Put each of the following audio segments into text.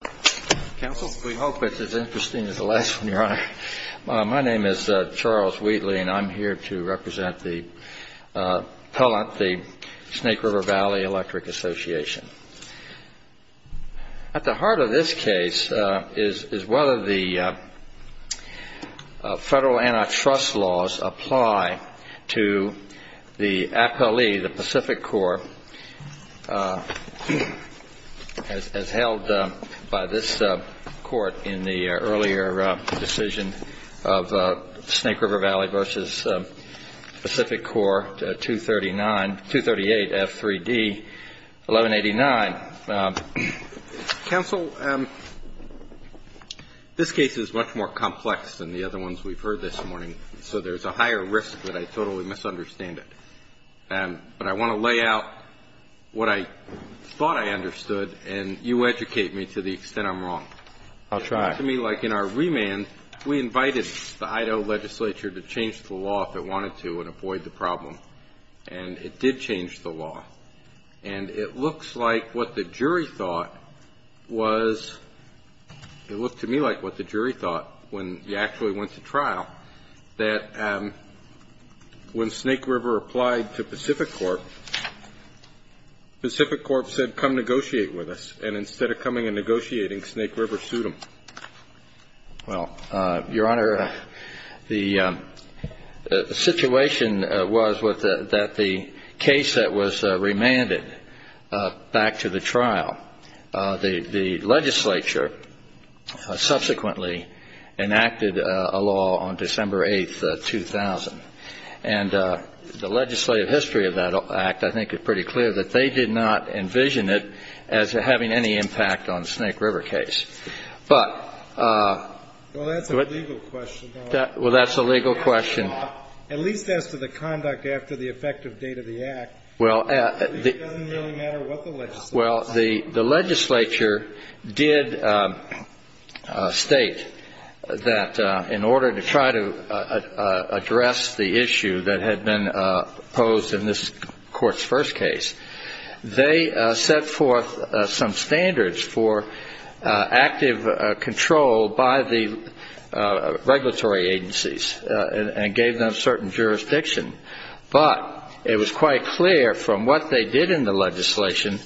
My name is Charles Wheatley and I'm here to represent the Snake River Valley Electric Association. At the heart of this case is whether the federal antitrust laws apply to the APALE, the PacifiCorp, as held by this court in the earlier decision of Snake River Valley v. PacifiCorp, 238F3D1189. Counsel, this case is much more complex than the other ones we've heard this morning, so there's a higher risk that I totally misunderstand it. But I want to lay out what I thought I understood, and you educate me to the extent I'm wrong. I'll try. It looked to me like in our remand, we invited the Idaho legislature to change the law if it wanted to and avoid the problem. And it did change the law. And it looks like what the jury thought was, it looked to me like what the jury thought when we actually went to trial, that when Snake River applied to PacifiCorp, PacifiCorp said, and instead of coming and negotiating, Snake River sued them. Well, Your Honor, the situation was that the case that was remanded back to the trial, the legislature subsequently enacted a law on December 8, 2000. And the legislative history of that act, I think, is pretty clear, that they did not envision it as having any impact on the Snake River case. Well, that's a legal question. Well, that's a legal question. At least as to the conduct after the effective date of the act. It doesn't really matter what the legislature said. They did state that in order to try to address the issue that had been posed in this Court's first case, they set forth some standards for active control by the regulatory agencies and gave them certain jurisdiction. But it was quite clear from what they did in the legislation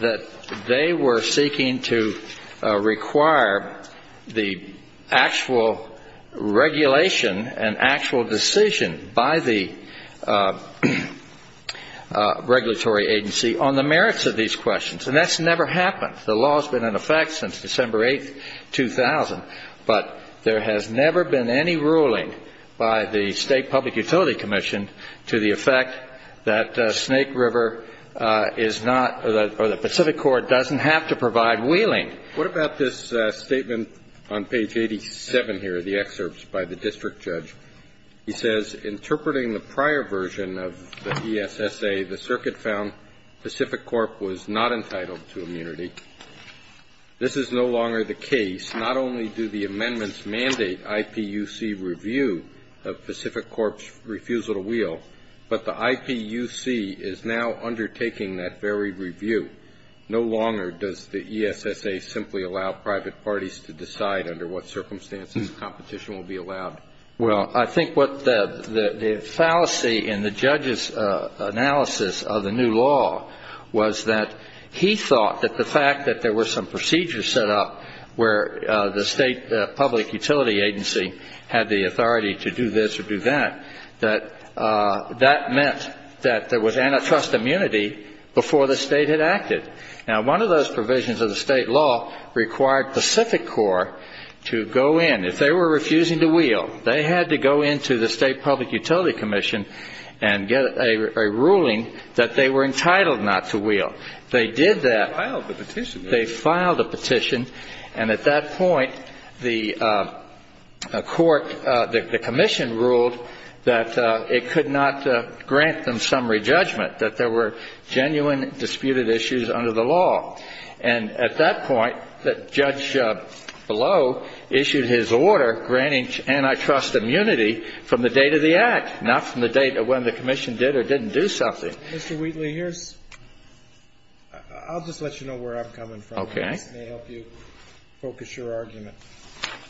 that they were seeking to require the actual regulation and actual decision by the regulatory agency on the merits of these questions. And that's never happened. The law has been in effect since December 8, 2000. But there has never been any ruling by the State Public Utility Commission to the effect that Snake River is not or the Pacific Corp doesn't have to provide wheeling. What about this statement on page 87 here, the excerpts by the district judge? He says, Interpreting the prior version of the ESSA, the circuit found Pacific Corp was not entitled to immunity. This is no longer the case. Not only do the amendments mandate IPUC review of Pacific Corp's refusal to wheel, but the IPUC is now undertaking that very review. No longer does the ESSA simply allow private parties to decide under what circumstances competition will be allowed. Well, I think what the fallacy in the judge's analysis of the new law was that he thought that the fact that there were some procedures set up where the State Public Utility Agency had the authority to do this or do that, that that meant that there was antitrust immunity before the state had acted. Now, one of those provisions of the state law required Pacific Corp to go in. If they were refusing to wheel, they had to go into the State Public Utility Commission and get a ruling that they were entitled not to wheel. They did that. They filed the petition. And at that point, the court, the commission ruled that it could not grant them summary judgment, that there were genuine disputed issues under the law. And at that point, Judge Below issued his order granting antitrust immunity from the date of the Act, not from the date of when the commission did or didn't do something. Mr. Wheatley, I'll just let you know where I'm coming from. Okay. This may help you focus your argument.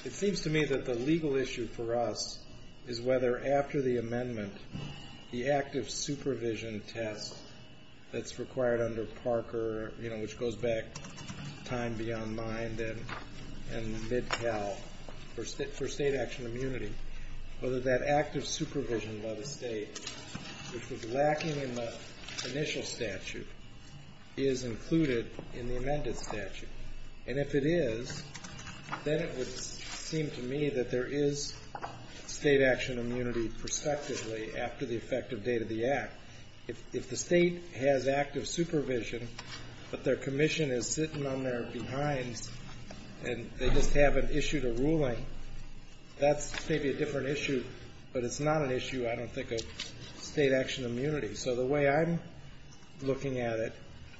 It seems to me that the legal issue for us is whether after the amendment, the active supervision test that's required under Parker, you know, which goes back time beyond mine and mid-Cal for state action immunity, whether that active supervision by the State, which was lacking in the initial statute, is included in the amended statute. And if it is, then it would seem to me that there is state action immunity prospectively after the effective date of the Act. If the State has active supervision, but their commission is sitting on their behinds and they just haven't issued a ruling, that's maybe a different issue, but it's not an issue I don't think of state action immunity. So the way I'm looking at it,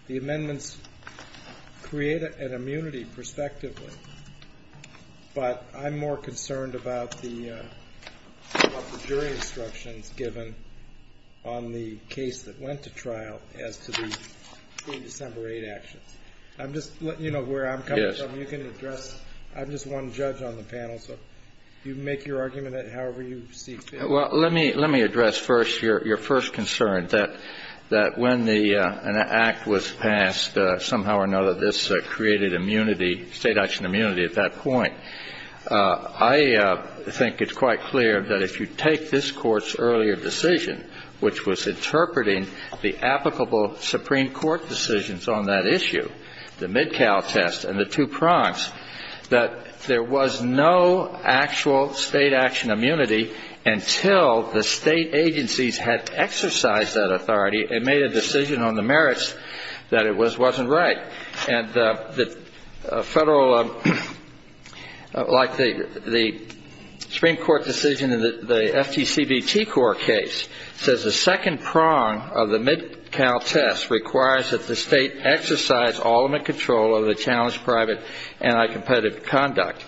the amendments create an immunity prospectively, but I'm more concerned about the jury instructions given on the case that went to trial as to the December 8 actions. I'm just letting you know where I'm coming from. You can address. I'm just one judge on the panel, so you make your argument however you see fit. Well, let me address first your first concern, that when the Act was passed, somehow or another this created immunity, state action immunity at that point. I think it's quite clear that if you take this Court's earlier decision, which was interpreting the applicable Supreme Court decisions on that issue, the Midcal test and the two prongs, that there was no actual state action immunity until the State agencies had exercised that authority and made a decision on the merits that it was or wasn't right. And the Federal, like the Supreme Court decision in the FTCBT court case, says the second prong of the Midcal test requires that the State exercise ultimate control of the challenged private anti-competitive conduct,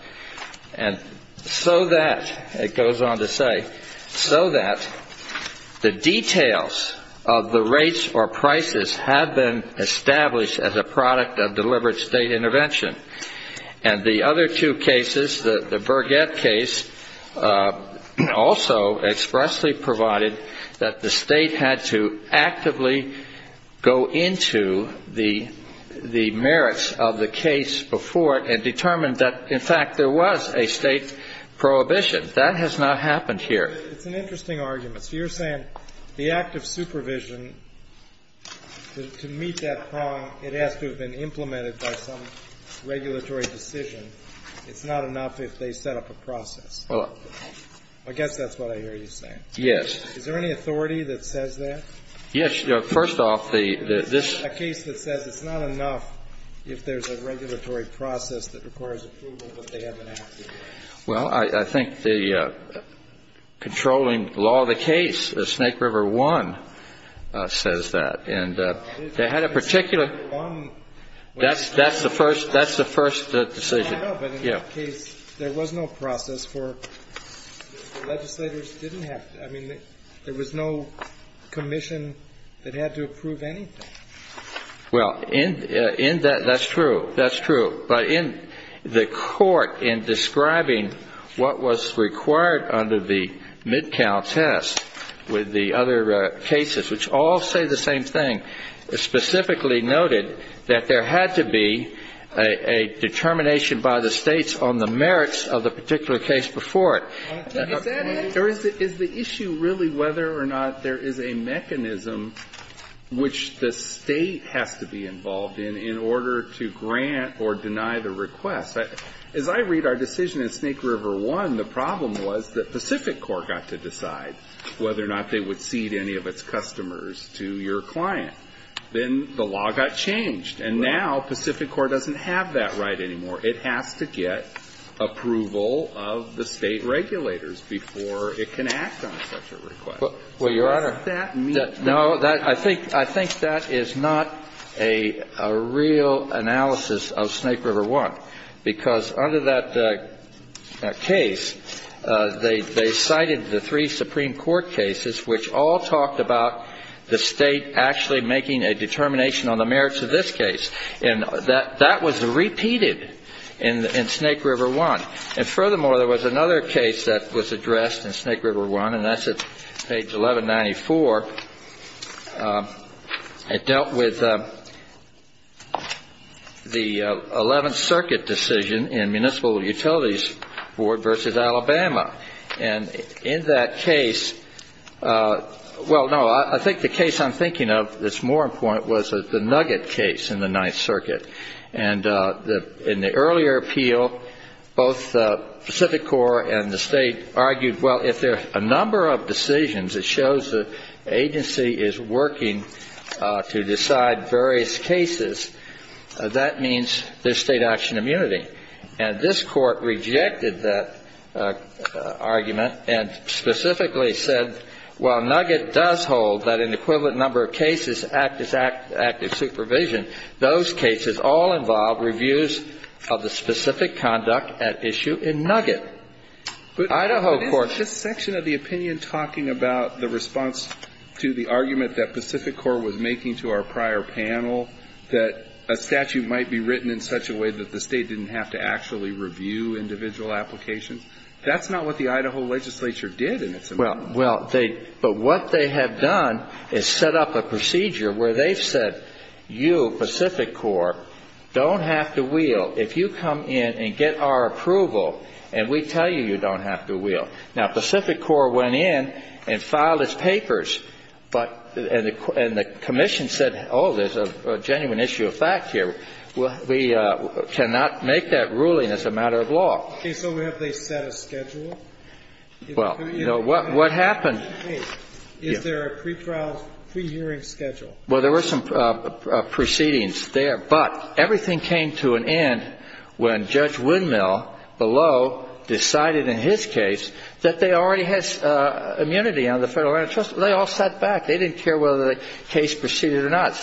and so that, it goes on to say, so that the details of the rates or prices have been established as a product of deliberate state intervention. And the other two cases, the Burgett case, also expressly provided that the State had to actively go into the merits of the case before it and determine that, in fact, there was a state prohibition. That has not happened here. It's an interesting argument. So you're saying the act of supervision, to meet that prong, it has to have been implemented by some regulatory decision. It's not enough if they set up a process. I guess that's what I hear you saying. Yes. Is there any authority that says that? Yes. First off, this ---- A case that says it's not enough if there's a regulatory process that requires approval, but they haven't had to do that. Well, I think the controlling law of the case, the Snake River I, says that. And they had a particular ---- That's the first decision. Yes. But in that case, there was no process for legislators didn't have to. I mean, there was no commission that had to approve anything. Well, in that, that's true. That's true. But in the court, in describing what was required under the mid-count test with the other cases, which all say the same thing, specifically noted that there had to be a determination by the States on the merits of the particular case before it. Is that it? Is the issue really whether or not there is a mechanism which the State has to be involved in in order to grant or deny the request? As I read our decision in Snake River I, the problem was the Pacific Corps got to decide whether or not it would cede any of its customers to your client. Then the law got changed. And now Pacific Corps doesn't have that right anymore. It has to get approval of the State regulators before it can act on such a request. Well, Your Honor, I think that is not a real analysis of Snake River I, because under that case, they cited the three Supreme Court cases, which all talked about the State actually making a determination on the merits of this case. And that was repeated in Snake River I. And furthermore, there was another case that was addressed in Snake River I, and that's at page 1194. It dealt with the 11th Circuit decision in Municipal Utilities Board v. Alabama. And in that case, well, no, I think the case I'm thinking of that's more important was the Nugget case in the 9th Circuit. And in the earlier appeal, both Pacific Corps and the State argued, well, if there are a number of cases where the agency is working to decide various cases, that means there's State action immunity. And this Court rejected that argument and specifically said, well, Nugget does hold that an equivalent number of cases act as active supervision. Those cases all involve reviews of the specific conduct at issue in Nugget. Idaho Court. But isn't this section of the opinion talking about the response to the argument that Pacific Corps was making to our prior panel, that a statute might be written in such a way that the State didn't have to actually review individual applications? That's not what the Idaho legislature did in its opinion. Well, but what they have done is set up a procedure where they've said, you, Pacific Corps, don't have to wheel. Now, Pacific Corps went in and filed its papers, but the commission said, oh, there's a genuine issue of fact here. We cannot make that ruling as a matter of law. Okay. So have they set a schedule? Well, what happened? Is there a pre-trial, pre-hearing schedule? Well, there were some proceedings there. But everything came to an end when Judge Windmill below decided in his case that they already had immunity on the federal antitrust. They all sat back. They didn't care whether the case proceeded or not.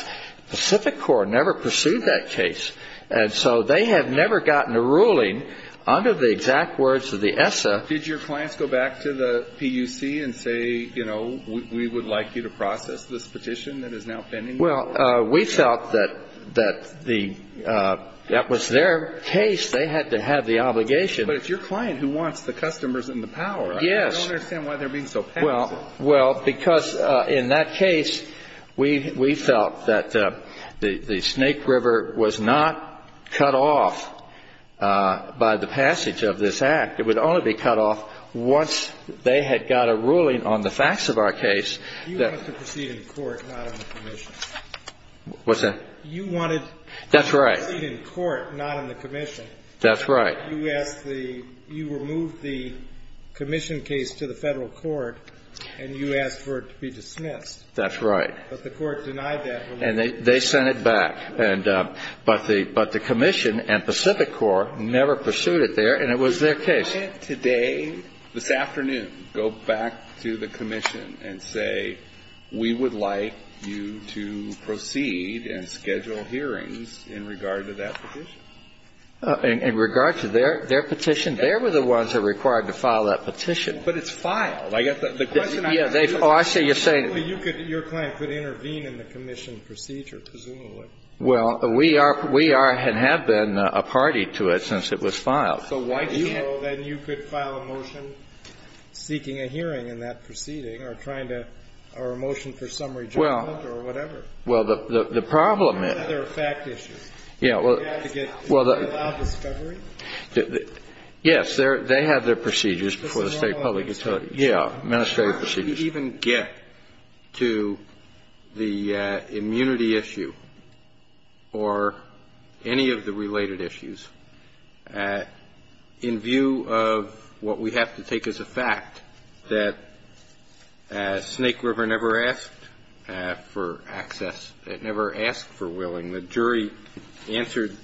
Pacific Corps never pursued that case. And so they have never gotten a ruling under the exact words of the ESSA. Did your clients go back to the PUC and say, you know, we would like you to process this petition that is now pending? Well, we felt that that was their case. They had to have the obligation. But it's your client who wants the customers and the power. Yes. I don't understand why they're being so passive. Well, because in that case, we felt that the Snake River was not cut off by the passage of this act. It would only be cut off once they had got a ruling on the facts of our case. You wanted to proceed in court, not on the commission. What's that? You wanted to proceed in court, not on the commission. That's right. You removed the commission case to the federal court, and you asked for it to be dismissed. That's right. But the court denied that. And they sent it back. But the commission and Pacific Corps never pursued it there, and it was their case. Why can't today, this afternoon, go back to the commission and say, we would like you to proceed and schedule hearings in regard to that petition? In regard to their petition? They were the ones that were required to file that petition. But it's filed. I guess the question I'm trying to get at is presumably your client could intervene in the commission procedure, presumably. Well, we are and have been a party to it since it was filed. So why can't you file a motion seeking a hearing in that proceeding or a motion for some rejoinment or whatever? Well, the problem is they have their procedures before the state public utilities. Yeah, administrative procedures. Could you even get to the immunity issue or any of the related issues in view of what we have to take as a fact, that Snake River never asked for access, never asked for willing. The jury answered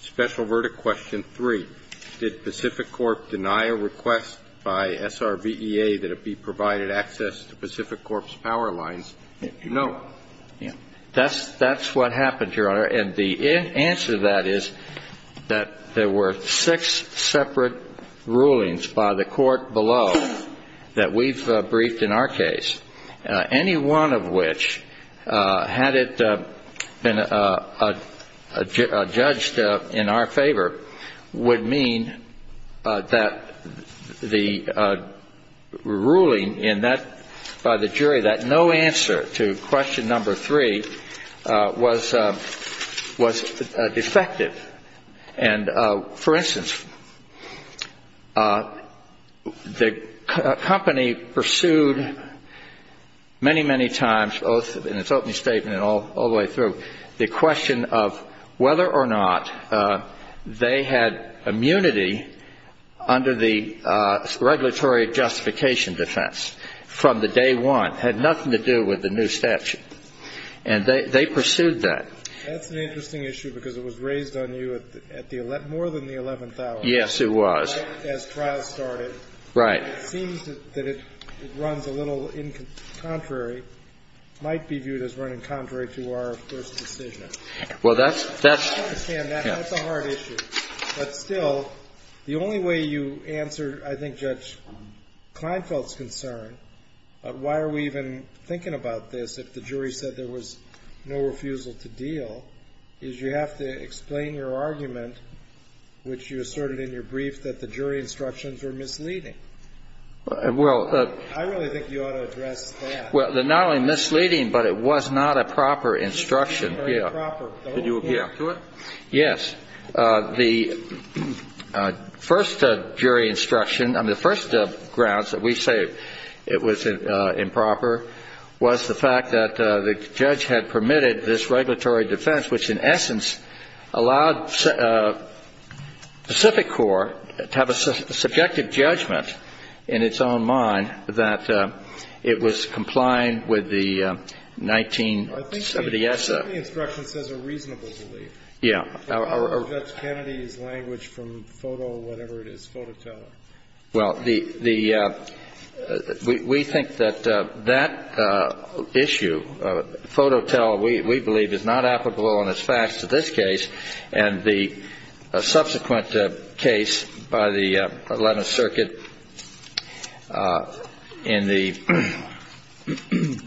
special verdict question three. Did Pacific Corp. deny a request by SRVEA that it be provided access to Pacific Corp.'s power lines? No. That's what happened, Your Honor. And the answer to that is that there were six separate rulings by the court below that we've briefed in our case, any one of which, had it been judged in our favor, would mean that the ruling by the jury that no answer to question number three was defective. And, for instance, the company pursued many, many times, both in its opening statement and all the way through, the question of whether or not they had immunity under the regulatory justification defense from the day one. It had nothing to do with the new statute. And they pursued that. That's an interesting issue because it was raised on you more than the 11,000. Yes, it was. As trial started. Right. It seems that it runs a little contrary, might be viewed as running contrary to our first decision. Well, that's... I understand that. That's a hard issue. But still, the only way you answer, I think, Judge Kleinfeld's concern, why are we even thinking about this if the jury said there was no refusal to deal, is you have to explain your argument, which you asserted in your brief, that the jury instructions were misleading. Well... I really think you ought to address that. Well, they're not only misleading, but it was not a proper instruction. Yeah. Did you appeal to it? Yes. And the first jury instruction, I mean, the first grounds that we say it was improper was the fact that the judge had permitted this regulatory defense, which in essence allowed Pacific Corps to have a subjective judgment in its own mind that it was compliant with the 1970 essay. I think the instruction says a reasonable belief. Yeah. What about Judge Kennedy's language from FOTO, whatever it is, FOTOTEL? Well, we think that that issue, FOTOTEL, we believe is not applicable in its facts to this case and the subsequent case by the 11th Circuit in the...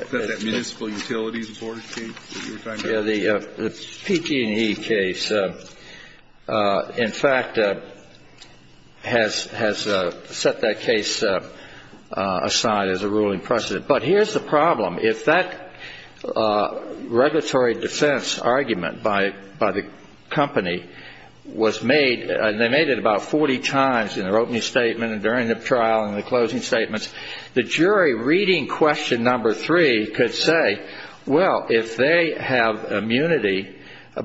Is that that Municipal Utilities Board case that you were talking about? Yeah, the PG&E case, in fact, has set that case aside as a ruling precedent. But here's the problem. If that regulatory defense argument by the company was made, and they made it about 40 times in their opening statement and during the trial and the closing statements, the jury reading question number three could say, well, if they have immunity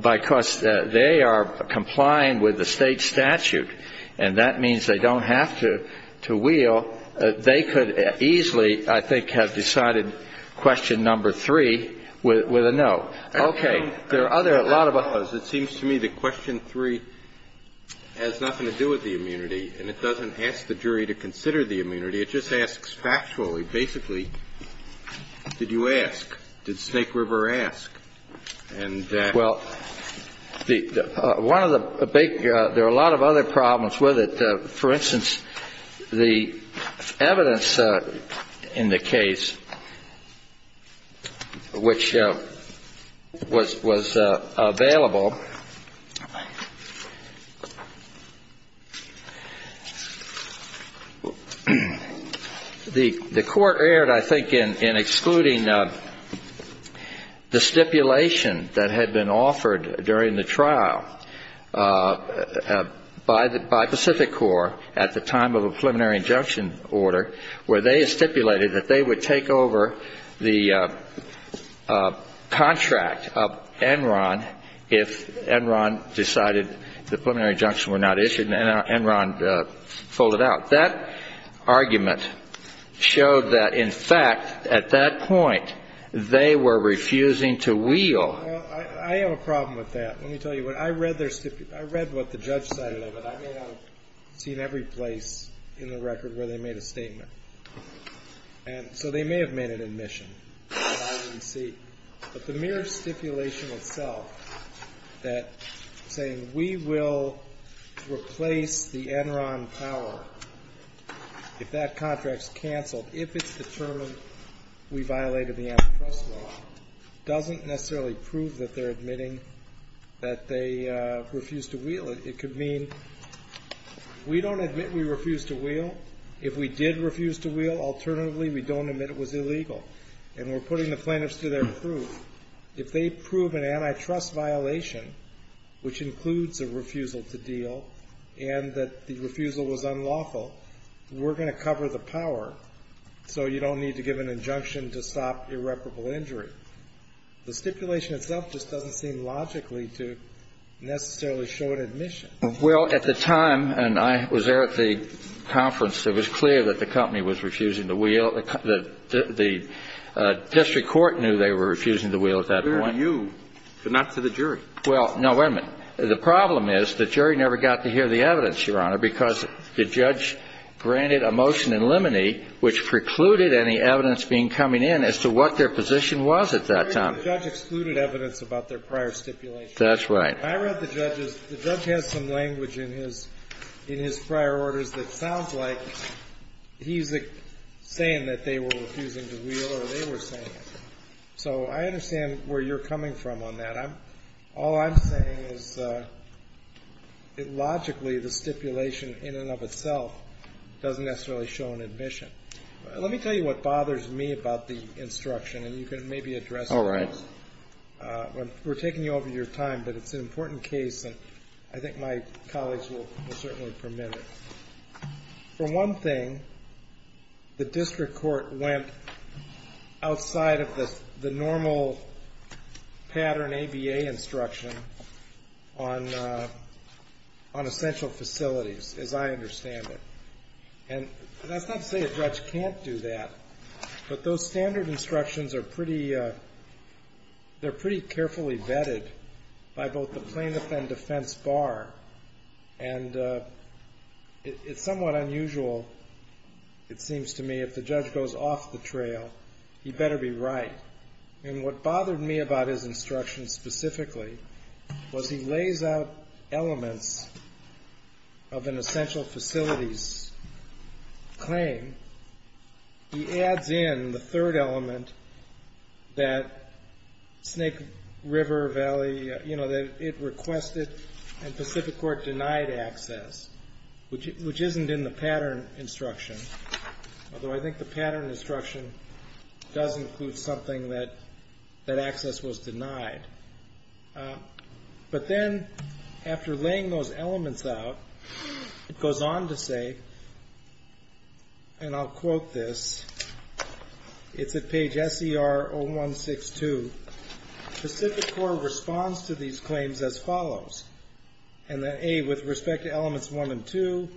because they are complying with the State statute and that means they don't have to wheel, they could easily, I think, have decided question number three with a no. Okay. There are other, a lot of... It seems to me that question three has nothing to do with the immunity, and it doesn't ask the jury to consider the immunity. It just asks factually, basically, did you ask? Did Snake River ask? And... Well, one of the big, there are a lot of other problems with it. The Court erred, I think, in excluding the stipulation that had been offered during the trial by Pacific Corps at the time of a preliminary injunction order where they stipulated that they would take over the contract of Enron if Enron decided the preliminary injunction were not issued and Enron folded out. That argument showed that, in fact, at that point, they were refusing to wheel. Well, I have a problem with that. Let me tell you what. I read their stipulation. I read what the judge cited of it. I may not have seen every place in the record where they made a statement. And so they may have made an admission that I didn't see. But the mere stipulation itself that saying we will replace the Enron power if that contract is canceled, if it's determined we violated the antitrust law, doesn't necessarily prove that they're admitting that they refused to wheel. It could mean we don't admit we refused to wheel. If we did refuse to wheel, alternatively, we don't admit it was illegal. And we're putting the plaintiffs to their proof. If they prove an antitrust violation, which includes a refusal to deal and that the refusal was unlawful, we're going to cover the power so you don't need to give an injunction to stop irreparable injury. The stipulation itself just doesn't seem logically to necessarily show an admission. Well, at the time, and I was there at the conference, it was clear that the company was refusing to wheel, that the district court knew they were refusing to wheel at that point. It was clear to you, but not to the jury. Well, no, wait a minute. The problem is the jury never got to hear the evidence, Your Honor, because the judge granted a motion in limine, which precluded any evidence being coming in as to what their position was at that time. The judge excluded evidence about their prior stipulation. That's right. I read the judge's, the judge has some language in his prior orders that sounds like he's saying that they were refusing to wheel or they were saying it. So I understand where you're coming from on that. All I'm saying is logically the stipulation in and of itself doesn't necessarily show an admission. Let me tell you what bothers me about the instruction, and you can maybe address it. All right. We're taking you over your time, but it's an important case, and I think my colleagues will certainly permit it. For one thing, the district court went outside of the normal pattern ABA instruction on essential facilities, as I understand it. And that's not to say a judge can't do that, but those standard instructions are pretty, they're pretty carefully vetted by both the plaintiff and defense bar. And it's somewhat unusual, it seems to me, if the judge goes off the trail. He better be right. And what bothered me about his instruction specifically was he lays out elements of an essential facilities claim. He adds in the third element that Snake River Valley, you know, that it requested and Pacific Court denied access, which isn't in the pattern instruction. Although I think the pattern instruction does include something that that access was denied. But then after laying those elements out, it goes on to say, and I'll quote this, it's at page SER 0162. Pacific Court responds to these claims as follows. And that A, with respect to elements one and two,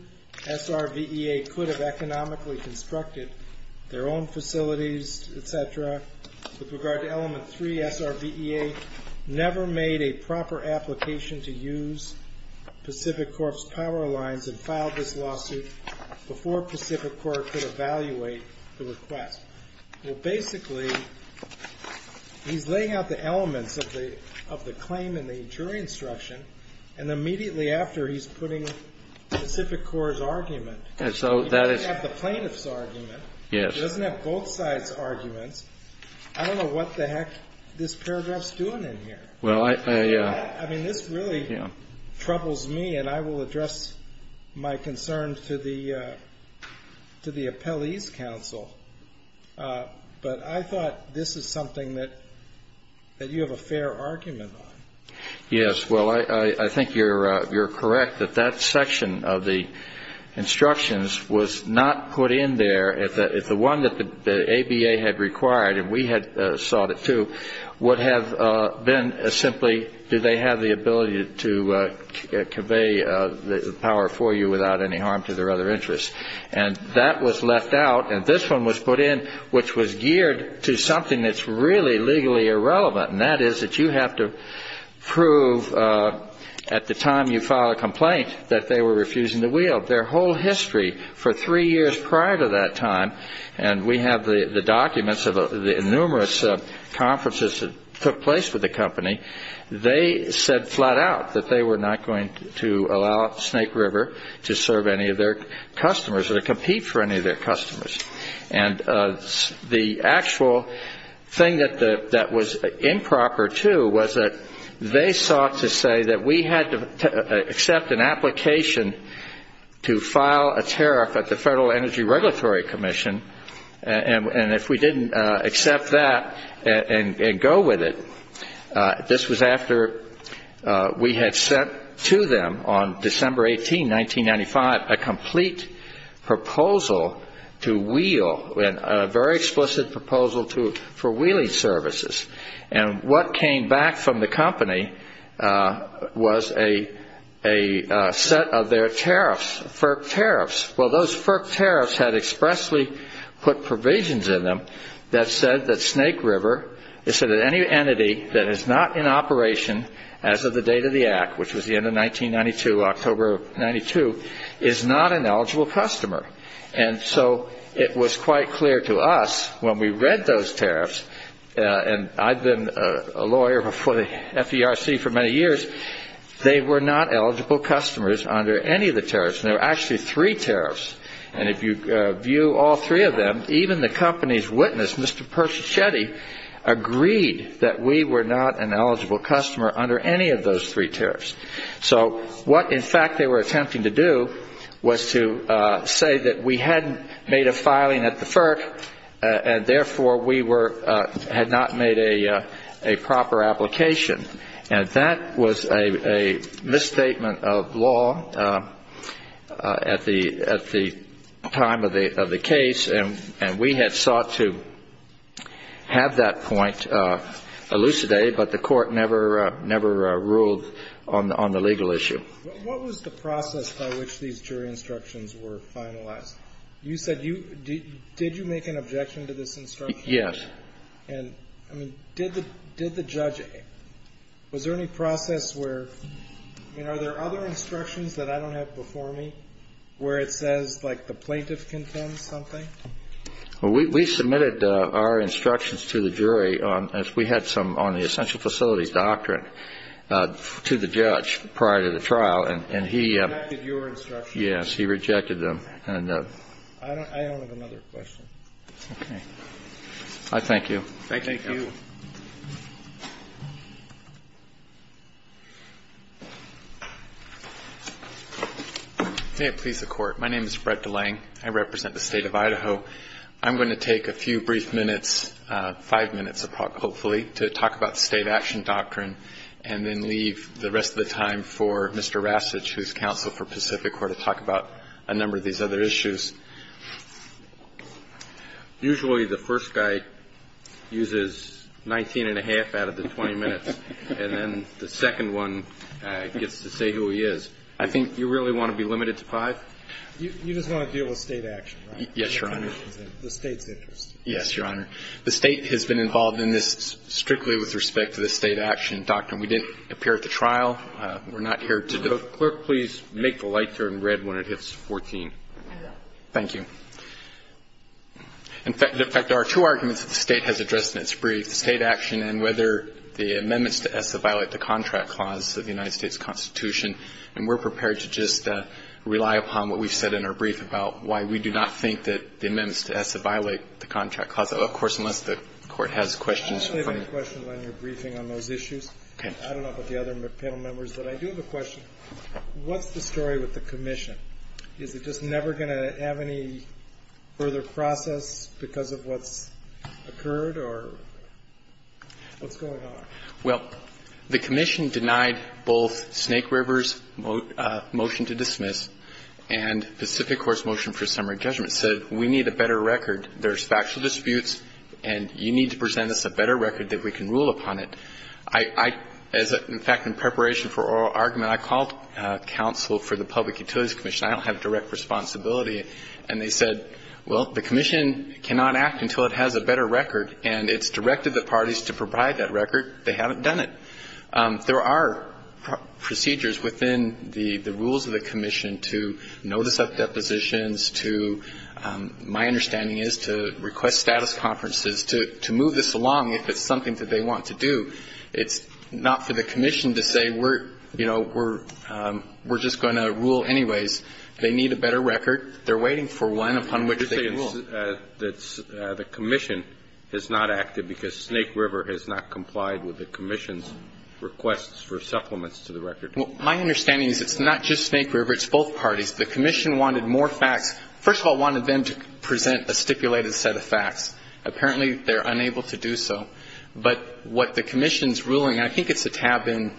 SRVEA could have economically constructed their own facilities, etc. With regard to element three, SRVEA never made a proper application to use Pacific Corp's power lines and filed this lawsuit before Pacific Court could evaluate the request. Well, basically, he's laying out the elements of the claim in the jury instruction. And immediately after, he's putting Pacific Corp's argument. He doesn't have the plaintiff's argument. He doesn't have both sides' arguments. I don't know what the heck this paragraph's doing in here. I mean, this really troubles me, and I will address my concern to the appellee's counsel. But I thought this is something that you have a fair argument on. Yes, well, I think you're correct that that section of the instructions was not put in there. It's the one that the ABA had required, and we had sought it, too, would have been simply, do they have the ability to convey the power for you without any harm to their other interests? And that was left out, and this one was put in, which was geared to something that's really legally irrelevant, and that is that you have to prove at the time you file a complaint that they were refusing to wield. Their whole history for three years prior to that time, and we have the documents of the numerous conferences that took place with the company, they said flat out that they were not going to allow Snake River to serve any of their customers or to compete for any of their customers. They sought to say that we had to accept an application to file a tariff at the Federal Energy Regulatory Commission, and if we didn't accept that and go with it, this was after we had sent to them on December 18, 1995, a complete proposal to wield, a very explicit proposal for wielding services. And what came back from the company was a set of their tariffs, FERC tariffs. Well, those FERC tariffs had expressly put provisions in them that said that Snake River, they said that any entity that is not in operation as of the date of the Act, which was the end of 1992, October of 92, is not an eligible customer. And so it was quite clear to us when we read those tariffs, and I've been a lawyer for the FERC for many years, they were not eligible customers under any of the tariffs. There were actually three tariffs, and if you view all three of them, even the company's witness, Mr. Persichetti, agreed that we were not an eligible customer under any of those three tariffs. So what, in fact, they were attempting to do was to say that we had made a filing at the FERC and therefore we had not made a proper application. And that was a misstatement of law at the time of the case, and we had sought to have that point elucidated, but the Court never ruled on the legal issue. What was the process by which these jury instructions were finalized? You said you – did you make an objection to this instruction? Yes. And, I mean, did the judge – was there any process where – I mean, are there other instructions that I don't have before me where it says, like, the plaintiff contends something? We submitted our instructions to the jury as we had some on the essential facilities doctrine to the judge prior to the trial, and he – Rejected your instructions. Yes, he rejected them. I don't have another question. Okay. I thank you. Thank you. Thank you. May it please the Court. My name is Fred DeLange. I represent the State of Idaho. I'm going to take a few brief minutes, five minutes, hopefully, to talk about state action doctrine and then leave the rest of the time for Mr. Rasich, who is counsel for Pacific, to talk about a number of these other issues. Usually the first guy uses 19 and a half out of the 20 minutes, and then the second one gets to say who he is. I think you really want to be limited to five? You just want to deal with state action, right? Yes, Your Honor. The State's interest. Yes, Your Honor. The State has been involved in this strictly with respect to the state action doctrine. We didn't appear at the trial. We're not here to – Clerk, please make the light turn red when it hits 14. Thank you. In fact, there are two arguments that the State has addressed in its brief, state action and whether the amendments to ESSA violate the contract clause of the United States Constitution. And we're prepared to just rely upon what we've said in our brief about why we do not think that the amendments to ESSA violate the contract clause, of course, unless the Court has questions. I don't have any questions on your briefing on those issues. Okay. I don't know about the other panel members, but I do have a question. What's the story with the commission? Is it just never going to have any further process because of what's occurred or what's going on? Well, the commission denied both Snake River's motion to dismiss and the Civic Corps' motion for summary judgment, said we need a better record. There's factual disputes, and you need to present us a better record that we can rule upon it. I – as a – in fact, in preparation for oral argument, I called counsel for the Public Utilities Commission. I don't have direct responsibility. And they said, well, the commission cannot act until it has a better record, and it's directed the parties to provide that record. They haven't done it. There are procedures within the rules of the commission to notice up depositions, to – my understanding is to request status conferences, to move this along if it's something that they want to do. It's not for the commission to say we're – you know, we're just going to rule anyways. They need a better record. They're waiting for one upon which they can rule. You're saying that the commission has not acted because Snake River has not complied with the commission's requests for supplements to the record. Well, my understanding is it's not just Snake River. It's both parties. The commission wanted more facts. First of all, it wanted them to present a stipulated set of facts. Apparently, they're unable to do so. But what the commission's ruling – I think it's a tab in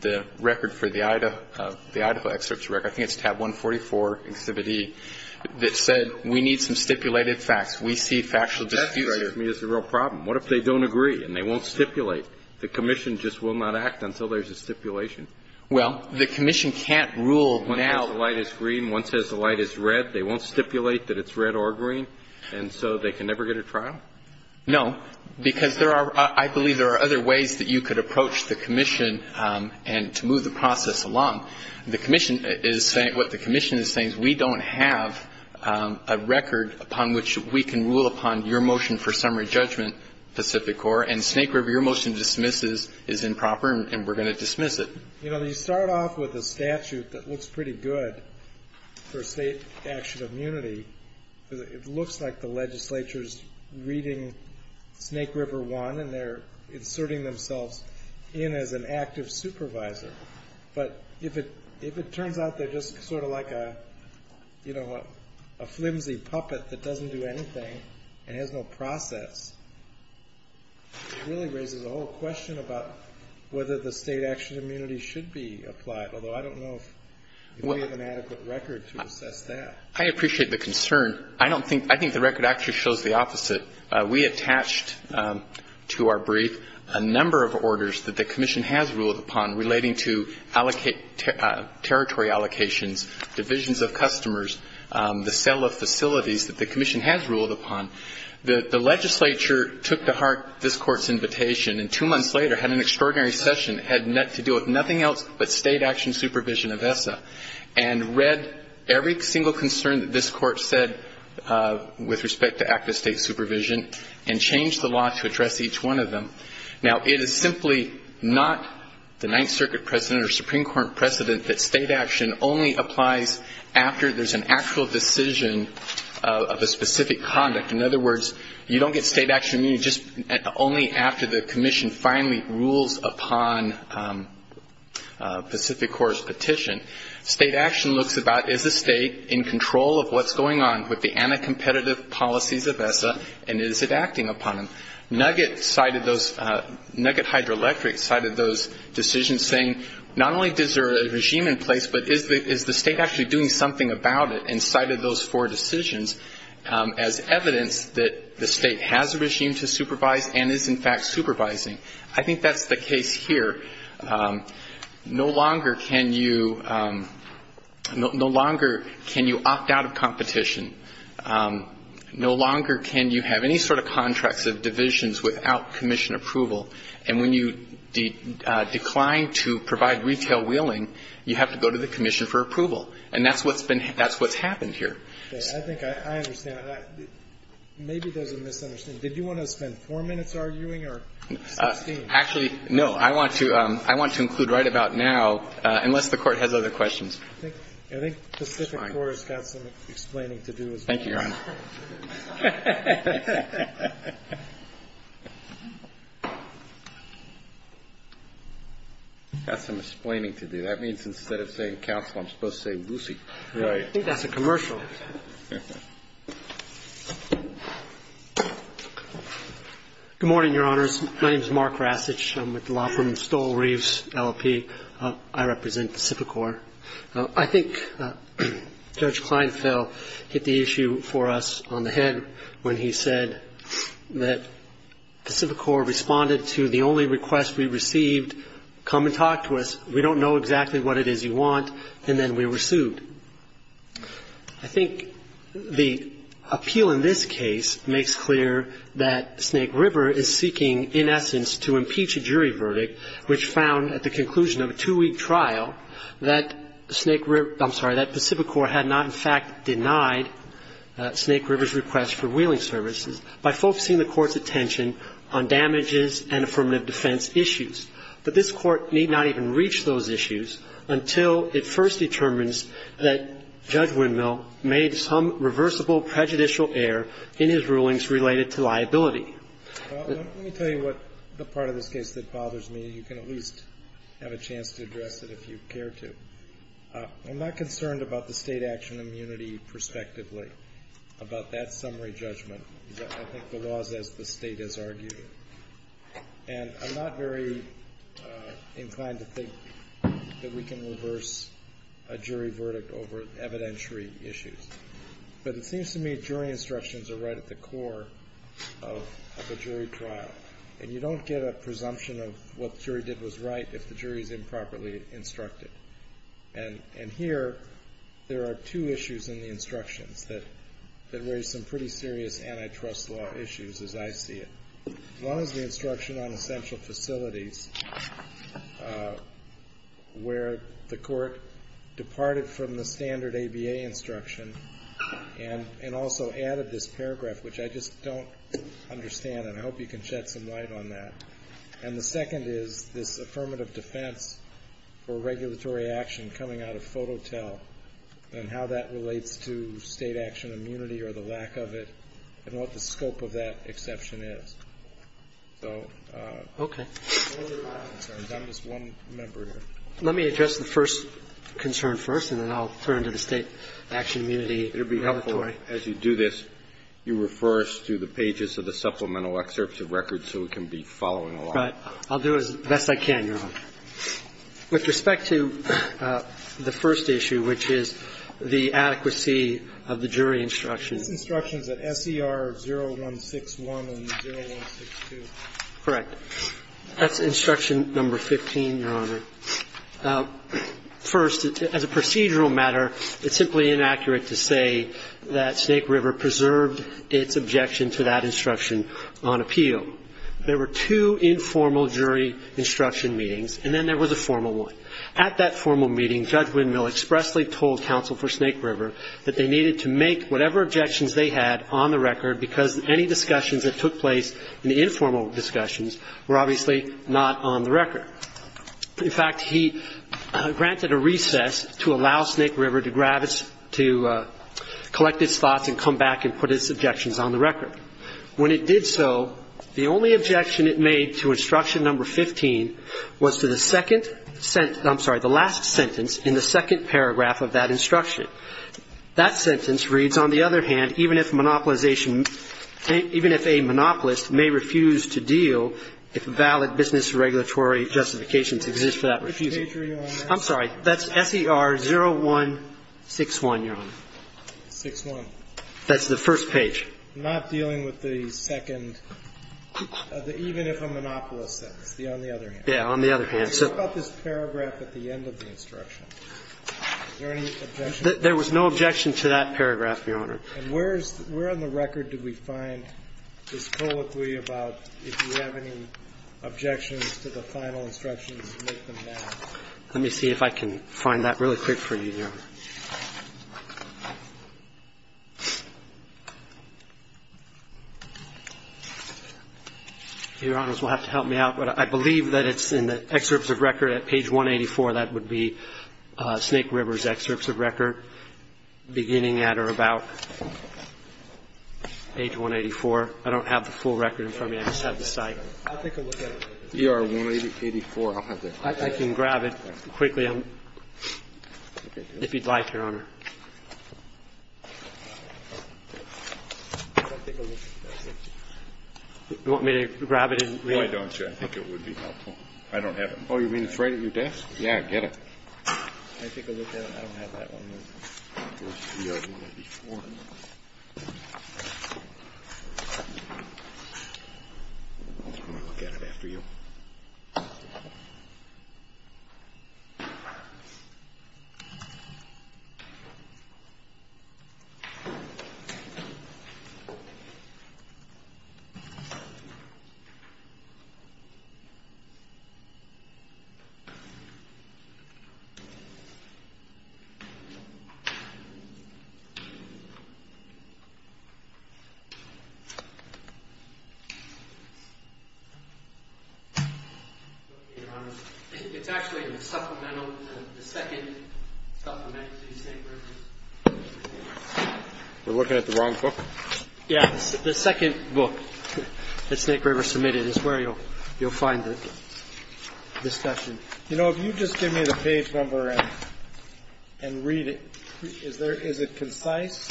the record for the Idaho excerpts record. I think it's tab 144, exhibit E, that said we need some stipulated facts. We see factual disputes. That, to me, is the real problem. What if they don't agree and they won't stipulate? The commission just will not act until there's a stipulation. Well, the commission can't rule now. One says the light is green. One says the light is red. They won't stipulate that it's red or green. And so they can never get a trial? No. Because there are – I believe there are other ways that you could approach the commission and to move the process along. The commission is saying – what the commission is saying is we don't have a record upon which we can rule upon your motion for summary judgment, Pacific Corps, and Snake River, your motion dismisses is improper and we're going to dismiss it. You know, you start off with a statute that looks pretty good for state action of unity. It looks like the legislature is reading Snake River I, and they're inserting themselves in as an active supervisor. But if it turns out they're just sort of like a, you know, a flimsy puppet that doesn't do anything and has no process, it really raises the whole question about whether the state action of unity should be applied, although I don't know if we have an adequate record to assess that. I appreciate the concern. I don't think – I think the record actually shows the opposite. We attached to our brief a number of orders that the commission has ruled upon relating to territory allocations, divisions of customers, the sale of facilities that the commission has ruled upon. The legislature took to heart this Court's invitation and two months later had an extraordinary session. And read every single concern that this Court said with respect to active state supervision and changed the law to address each one of them. Now, it is simply not the Ninth Circuit precedent or Supreme Court precedent that state action only applies after there's an actual decision of a specific conduct. In other words, you don't get state action of unity just only after the commission finally rules upon Pacific Core's petition. State action looks about is the state in control of what's going on with the anti-competitive policies of ESSA and is it acting upon them. Nugget cited those – Nugget Hydroelectric cited those decisions saying not only is there a regime in place, but is the state actually doing something about it and cited those four decisions as evidence that the state has established a regime to supervise and is in fact supervising. I think that's the case here. No longer can you – no longer can you opt out of competition. No longer can you have any sort of contracts of divisions without commission approval. And when you decline to provide retail wheeling, you have to go to the commission for approval. And that's what's been – that's what's happened here. I think I understand. Maybe there's a misunderstanding. Did you want to spend four minutes arguing or 16? Actually, no. I want to – I want to include right about now, unless the Court has other questions. I think Pacific Core has got some explaining to do as well. Thank you, Your Honor. It's got some explaining to do. That means instead of saying counsel, I'm supposed to say Lucy. Right. I think that's a commercial. Good morning, Your Honors. My name is Mark Rasich. I'm with the law firm Stoll Reeves, LLP. I represent Pacific Core. I think Judge Kleinfeld hit the issue for us on the head when he said that Pacific Core responded to the only request we received, come and talk to us. We don't know exactly what it is you want, and then we were sued. I think the appeal in this case makes clear that Snake River is seeking, in essence, to impeach a jury verdict which found at the conclusion of a two-week trial that Snake River – I'm sorry, that Pacific Core had not in fact denied Snake River's request for wheeling services by focusing the Court's attention on damages and affirmative defense issues. But this Court need not even reach those issues until it first determines that Judge Windmill made some reversible prejudicial error in his rulings related to liability. Well, let me tell you what the part of this case that bothers me. You can at least have a chance to address it if you care to. I'm not concerned about the State action immunity prospectively, about that summary judgment. I think the law is as the State has argued it. And I'm not very inclined to think that we can reverse a jury verdict over evidentiary issues. But it seems to me jury instructions are right at the core of a jury trial. And you don't get a presumption of what the jury did was right if the jury is improperly instructed. And here, there are two issues in the instructions that raise some pretty serious antitrust law issues as I see it. One is the instruction on essential facilities where the Court departed from the standard ABA instruction and also added this paragraph, which I just don't understand. And I hope you can shed some light on that. And the second is this affirmative defense for regulatory action coming out of the State. And what the scope of that exception is. So. Roberts. Okay. I'm sorry. I'm just one member here. Let me address the first concern first, and then I'll turn to the State action immunity regulatory. It would be helpful as you do this, you refer us to the pages of the supplemental excerpts of records so we can be following along. Right. I'll do it as best I can, Your Honor. With respect to the first issue, which is the adequacy of the jury instructions. I think it's instructions at SER 0161 and 0162. Correct. That's instruction number 15, Your Honor. First, as a procedural matter, it's simply inaccurate to say that Snake River preserved its objection to that instruction on appeal. There were two informal jury instruction meetings, and then there was a formal one. At that formal meeting, Judge Windmill expressly told counsel for Snake River that they needed to make whatever objections they had on the record because any discussions that took place in the informal discussions were obviously not on the record. In fact, he granted a recess to allow Snake River to collect its thoughts and come back and put its objections on the record. When it did so, the only objection it made to instruction number 15 was to the second sentence, I'm sorry, the last sentence in the second paragraph of that instruction. That sentence reads, on the other hand, even if monopolization even if a monopolist may refuse to deal if valid business regulatory justifications exist for that refusal. Which page are you on, Your Honor? I'm sorry. That's SER 0161, Your Honor. 0161. That's the first page. I'm not dealing with the second, the even if a monopolist sentence, on the other hand. Yes, on the other hand. So what about this paragraph at the end of the instruction? Is there any objection? There was no objection to that paragraph, Your Honor. And where on the record did we find this colloquy about if you have any objections to the final instructions, make them now? Let me see if I can find that really quick for you, Your Honor. Your Honors will have to help me out, but I believe that it's in the excerpts of record at page 184. That would be Snake River's excerpts of record beginning at or about page 184. I don't have the full record in front of me. I just have the site. I'll take a look at it. ER 184. I'll have that. I can grab it quickly if you'd like, Your Honor. Do you want me to grab it and read it? Why don't you? I think it would be helpful. I don't have it. Oh, you mean it's right at your desk? Yeah, get it. Can I take a look at it? I don't have that one. ER 184. I'll look at it after you. We're looking at the wrong book? Yeah, the second book that Snake River submitted is where you'll find the discussion. You know, if you just give me the page number and read it, is it concise?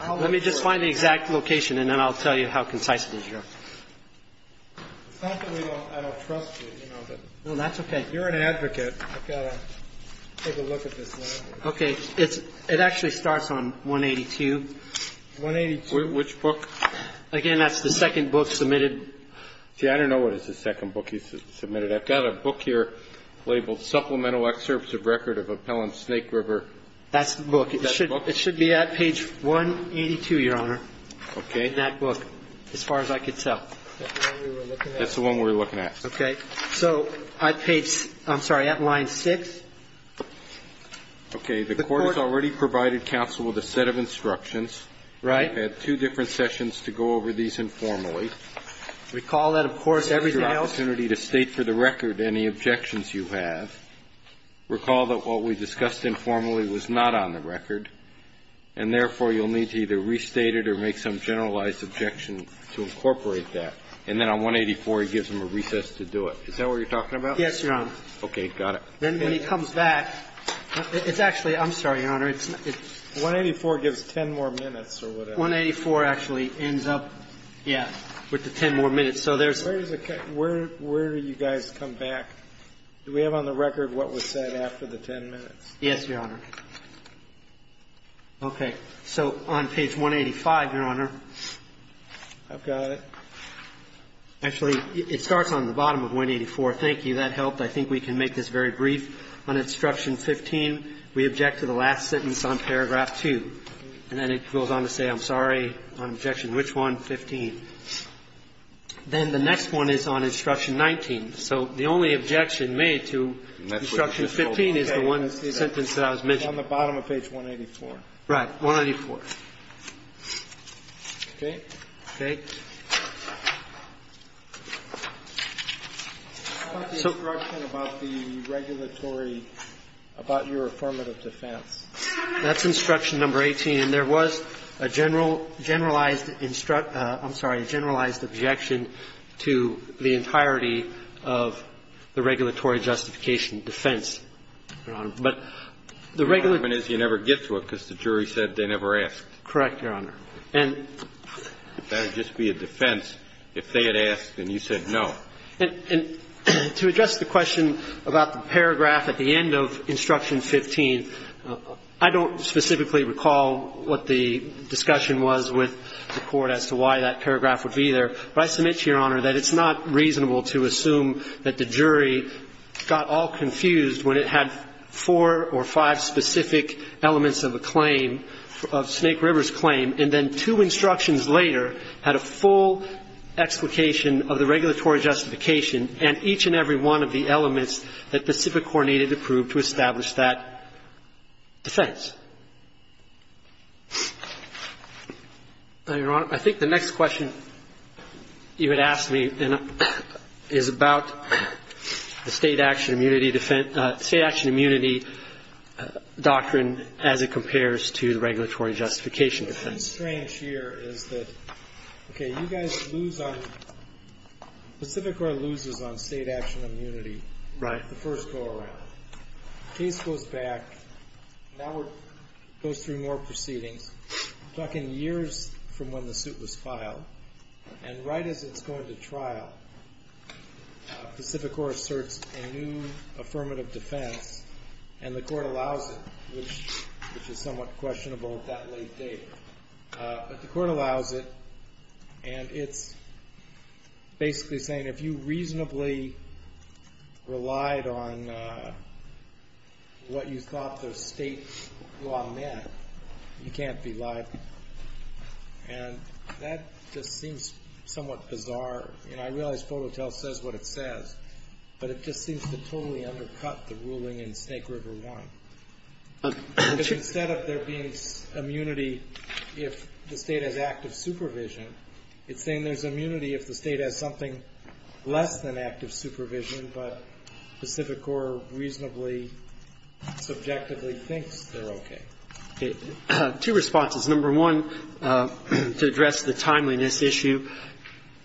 Let me just find the exact location, and then I'll tell you how concise it is, Your Honor. It's not that I don't trust you. No, that's okay. You're an advocate. I've got to take a look at this. Okay. It actually starts on 182. 182. Which book? Again, that's the second book submitted. See, I don't know what is the second book he submitted. I've got a book here labeled Supplemental Excerpts of Record of Appellant Snake River. That's the book. Is that the book? It should be at page 182, Your Honor. Okay. That book, as far as I could tell. That's the one we were looking at. That's the one we were looking at. Okay. So at page ‑‑ I'm sorry, at line 6. Okay. The court has already provided counsel with a set of instructions. Right. I've had two different sessions to go over these informally. Recall that, of course, everything else ‑‑ This is your opportunity to state for the record any objections you have. Recall that what we discussed informally was not on the record, and therefore you'll need to either restate it or make some generalized objection to incorporate that. And then on 184, he gives them a recess to do it. Is that what you're talking about? Yes, Your Honor. Okay. Then when he comes back, it's actually ‑‑ I'm sorry, Your Honor. 184 gives 10 more minutes or whatever. 184 actually ends up, yeah, with the 10 more minutes. Where do you guys come back? Do we have on the record what was said after the 10 minutes? Yes, Your Honor. Okay. So on page 185, Your Honor. I've got it. Actually, it starts on the bottom of 184. Thank you. That helped. I think we can make this very brief. On instruction 15, we object to the last sentence on paragraph 2. And then it goes on to say, I'm sorry, on objection which one? 15. Then the next one is on instruction 19. So the only objection made to instruction 15 is the one sentence that I was mentioning. It's on the bottom of page 184. Right, 184. Okay. Okay. What about the instruction about the regulatory ‑‑ about your affirmative defense? That's instruction number 18. And there was a general ‑‑ generalized ‑‑ I'm sorry, a generalized objection to the entirety of the regulatory justification defense, Your Honor. But the regular ‑‑ The problem is you never get to it because the jury said they never asked. Correct, Your Honor. It better just be a defense. If they had asked and you said no. And to address the question about the paragraph at the end of instruction 15, I don't specifically recall what the discussion was with the court as to why that paragraph would be there. But I submit to Your Honor that it's not reasonable to assume that the jury got all confused when it had four or five specific elements of a claim, of Snake River's claim, and then two instructions later had a full explication of the regulatory justification and each and every one of the elements that the Civic Corps needed to prove to establish that defense. Your Honor, I think the next question you had asked me is about the state action immunity defense ‑‑ state action immunity doctrine as it compares to the regulatory justification defense. What's strange here is that, okay, you guys lose on ‑‑ the Civic Corps loses on state action immunity. Right. The first go around. The case goes back. Now it goes through more proceedings. We're talking years from when the suit was filed. And right as it's going to trial, the Civic Corps asserts a new affirmative defense, and the court allows it, which is somewhat questionable at that late date. But the court allows it, and it's basically saying, if you reasonably relied on what you thought the state law meant, you can't be liable. And that just seems somewhat bizarre. And I realize Foto Tell says what it says, but it just seems to totally undercut the ruling in Snake River 1. Instead of there being immunity if the state has active supervision, it's saying there's immunity if the state has something less than active supervision, but the Civic Corps reasonably, subjectively thinks they're okay. Two responses. Number one, to address the timeliness issue,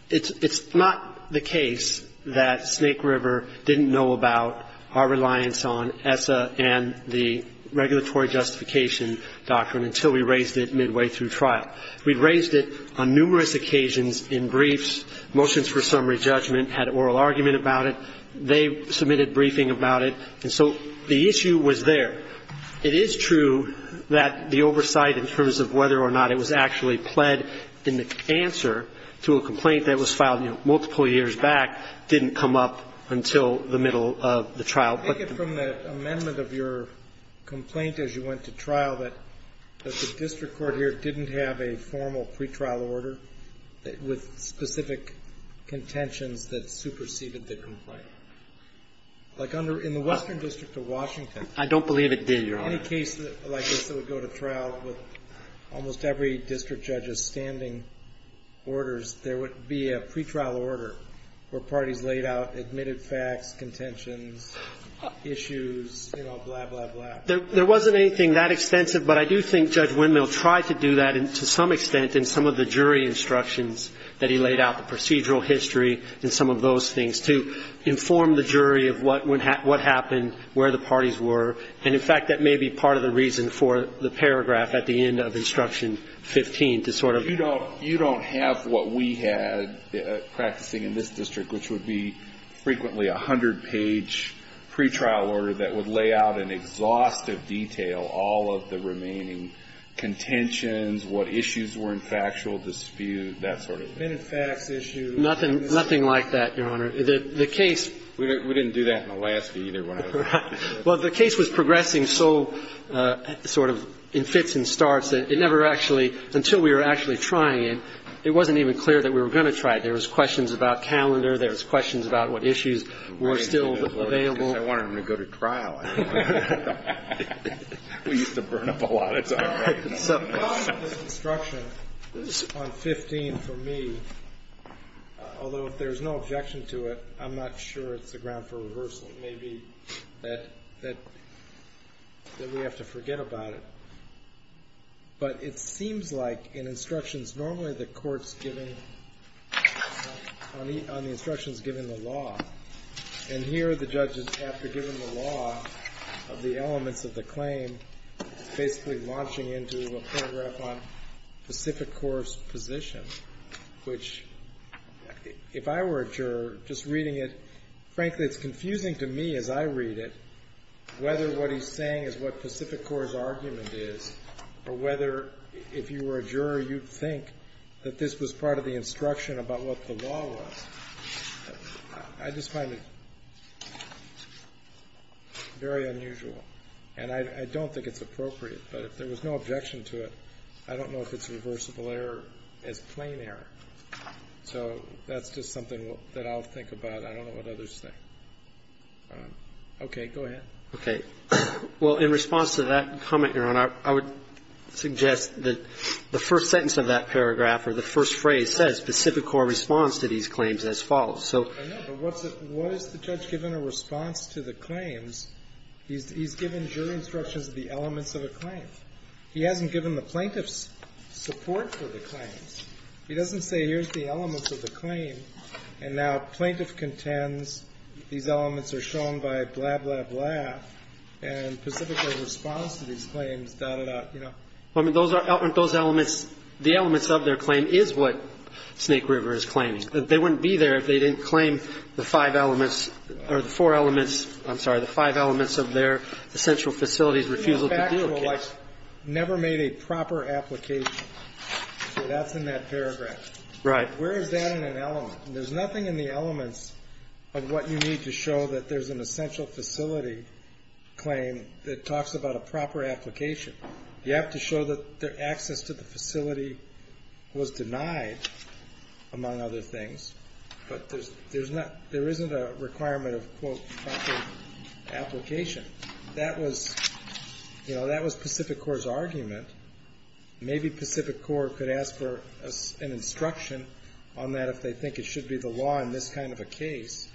it's not the case that Snake River didn't know about our reliance on ESSA and the regulatory justification doctrine until we raised it midway through trial. We raised it on numerous occasions in briefs. Motions for summary judgment had oral argument about it. They submitted briefing about it. And so the issue was there. It is true that the oversight in terms of whether or not it was actually pled in the answer to a complaint that was filed multiple years back didn't come up until the middle of the trial. I take it from the amendment of your complaint as you went to trial that the district court here didn't have a formal pretrial order with specific contentions that superseded the complaint. Right. Like in the Western District of Washington. I don't believe it did, Your Honor. In any case like this that would go to trial with almost every district judge's standing orders, there would be a pretrial order where parties laid out admitted facts, contentions, issues, you know, blah, blah, blah. There wasn't anything that extensive, but I do think Judge Windmill tried to do that to some extent in some of the jury instructions that he laid out, the procedural history and some of those things, to inform the jury of what happened, where the parties were. And, in fact, that may be part of the reason for the paragraph at the end of Instruction 15 to sort of... You don't have what we had practicing in this district, which would be frequently a 100-page pretrial order that would lay out in exhaustive detail all of the remaining contentions, what issues were in factual dispute, that sort of thing. Admitted facts issue... Nothing like that, Your Honor. The case... We didn't do that in the last meeting when I was practicing. Well, the case was progressing so sort of in fits and starts that it never actually, until we were actually trying it, it wasn't even clear that we were going to try it. There was questions about calendar. There was questions about what issues were still available. I wanted him to go to trial. We used to burn up a lot of time. So... The problem with Instruction on 15 for me, although if there's no objection to it, I'm not sure it's the ground for reversal. It may be that we have to forget about it. But it seems like in instructions, normally the court's giving, on the instructions, giving the law. And here the judge is, after giving the law of the elements of the claim, basically launching into a paragraph on Pacific Corp's position, which, if I were a juror, just reading it, frankly it's confusing to me as I read it, whether what he's saying is what Pacific Corp's argument is, or whether if you were a juror you'd think that this was part of the instruction about what the law was. I just find it very unusual. And I don't think it's appropriate. But if there was no objection to it, I don't know if it's reversible error as plain error. So that's just something that I'll think about. I don't know what others think. Okay. Go ahead. Roberts. Okay. Well, in response to that comment, Your Honor, I would suggest that the first sentence of that paragraph or the first phrase says Pacific Corp responds to these claims as follows. So... I know. But what's the judge given a response to the claims? He's given jury instructions of the elements of a claim. He hasn't given the plaintiffs support for the claims. He doesn't say, here's the elements of the claim, and now plaintiff contends these elements are shown by blah, blah, blah, and Pacific Corp responds to these claims, da, da, da, you know. Well, I mean, those are the elements of their claim is what Snake River is claiming. They wouldn't be there if they didn't claim the five elements or the four elements of their essential facilities refusal to deal case. Pacific Corp never made a proper application. So that's in that paragraph. Right. Where is that in an element? There's nothing in the elements of what you need to show that there's an essential facility claim that talks about a proper application. You have to show that access to the facility was denied, among other things. But there isn't a requirement of, quote, proper application. That was Pacific Corp's argument. Maybe Pacific Corp could ask for an instruction on that if they think it should be the law in this kind of a case.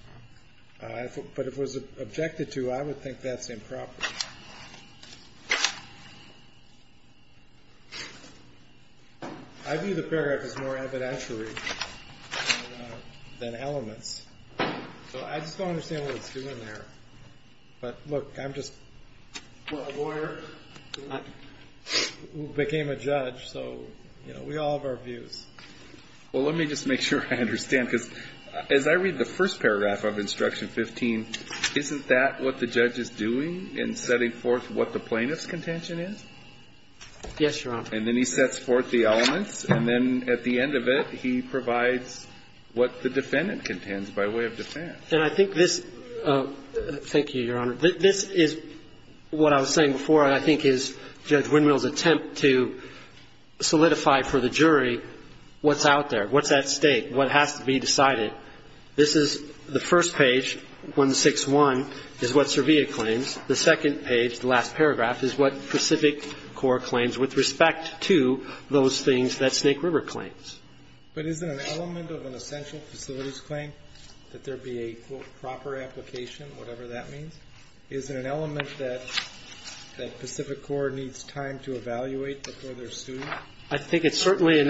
But if it was objected to, I would think that's improper. I view the paragraph as more evidentiary than elements. So I just don't understand what it's doing there. But, look, I'm just a lawyer who became a judge. So, you know, we all have our views. Well, let me just make sure I understand, because as I read the first paragraph of Instruction 15, isn't that what the judge is doing in setting forth what the plaintiff's contention is? Yes, Your Honor. And then he sets forth the elements, and then at the end of it, he provides what the defendant contends by way of defense. And I think this — thank you, Your Honor. This is what I was saying before, and I think is Judge Winrell's attempt to solidify for the jury what's out there, what's at stake, what has to be decided. This is the first page, 161, is what Servia claims. The second page, the last paragraph, is what Pacific Corp claims with respect to those things that Snake River claims. But isn't an element of an essential facilities claim that there be a, quote, proper application, whatever that means? Isn't an element that Pacific Corp needs time to evaluate before they're sued? I think it's certainly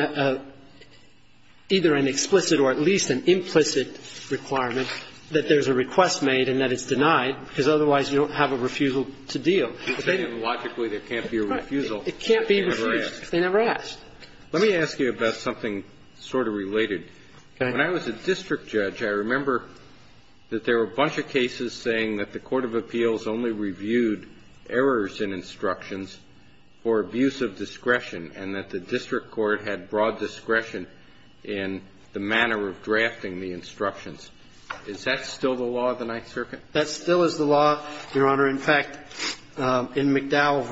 either an explicit or at least an implicit requirement that there's a request made and that it's denied, because otherwise you don't have a refusal to deal. Logically, there can't be a refusal. It can't be a refusal. They never ask. Let me ask you about something sort of related. When I was a district judge, I remember that there were a bunch of cases saying that the court of appeals only reviewed errors in instructions for abuse of discretion and that the district court had broad discretion in the manner of drafting the instructions. Is that still the law of the Ninth Circuit? That still is the law, Your Honor. In fact, in McDowell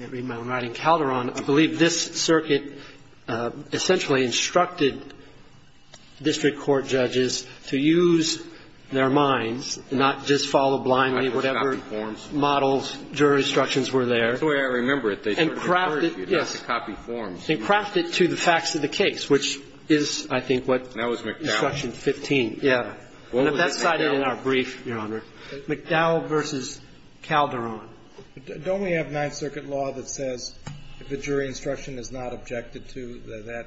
v. Calderon, I believe this circuit essentially instructed district court judges to use their minds and not just follow blindly whatever models, jury instructions were there. That's the way I remember it. They started to refer to you. Yes. To copy forms. And craft it to the facts of the case, which is, I think, what? That was McDowell. Instruction 15. Yes. That's cited in our brief, Your Honor. McDowell v. Calderon. Don't we have Ninth Circuit law that says if a jury instruction is not objected to, that that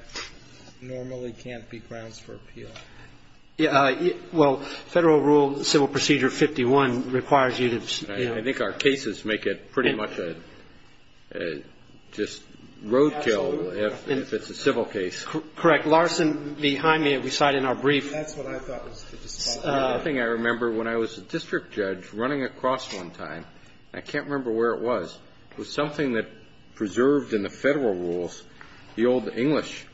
normally can't be grounds for appeal? Well, Federal Rule Civil Procedure 51 requires you to, you know. I think our cases make it pretty much just roadkill if it's a civil case. Larson, behind me, we cite in our brief. That's what I thought was the response. The other thing I remember when I was a district judge running across one time, and I can't remember where it was, was something that preserved in the Federal Rules, the old English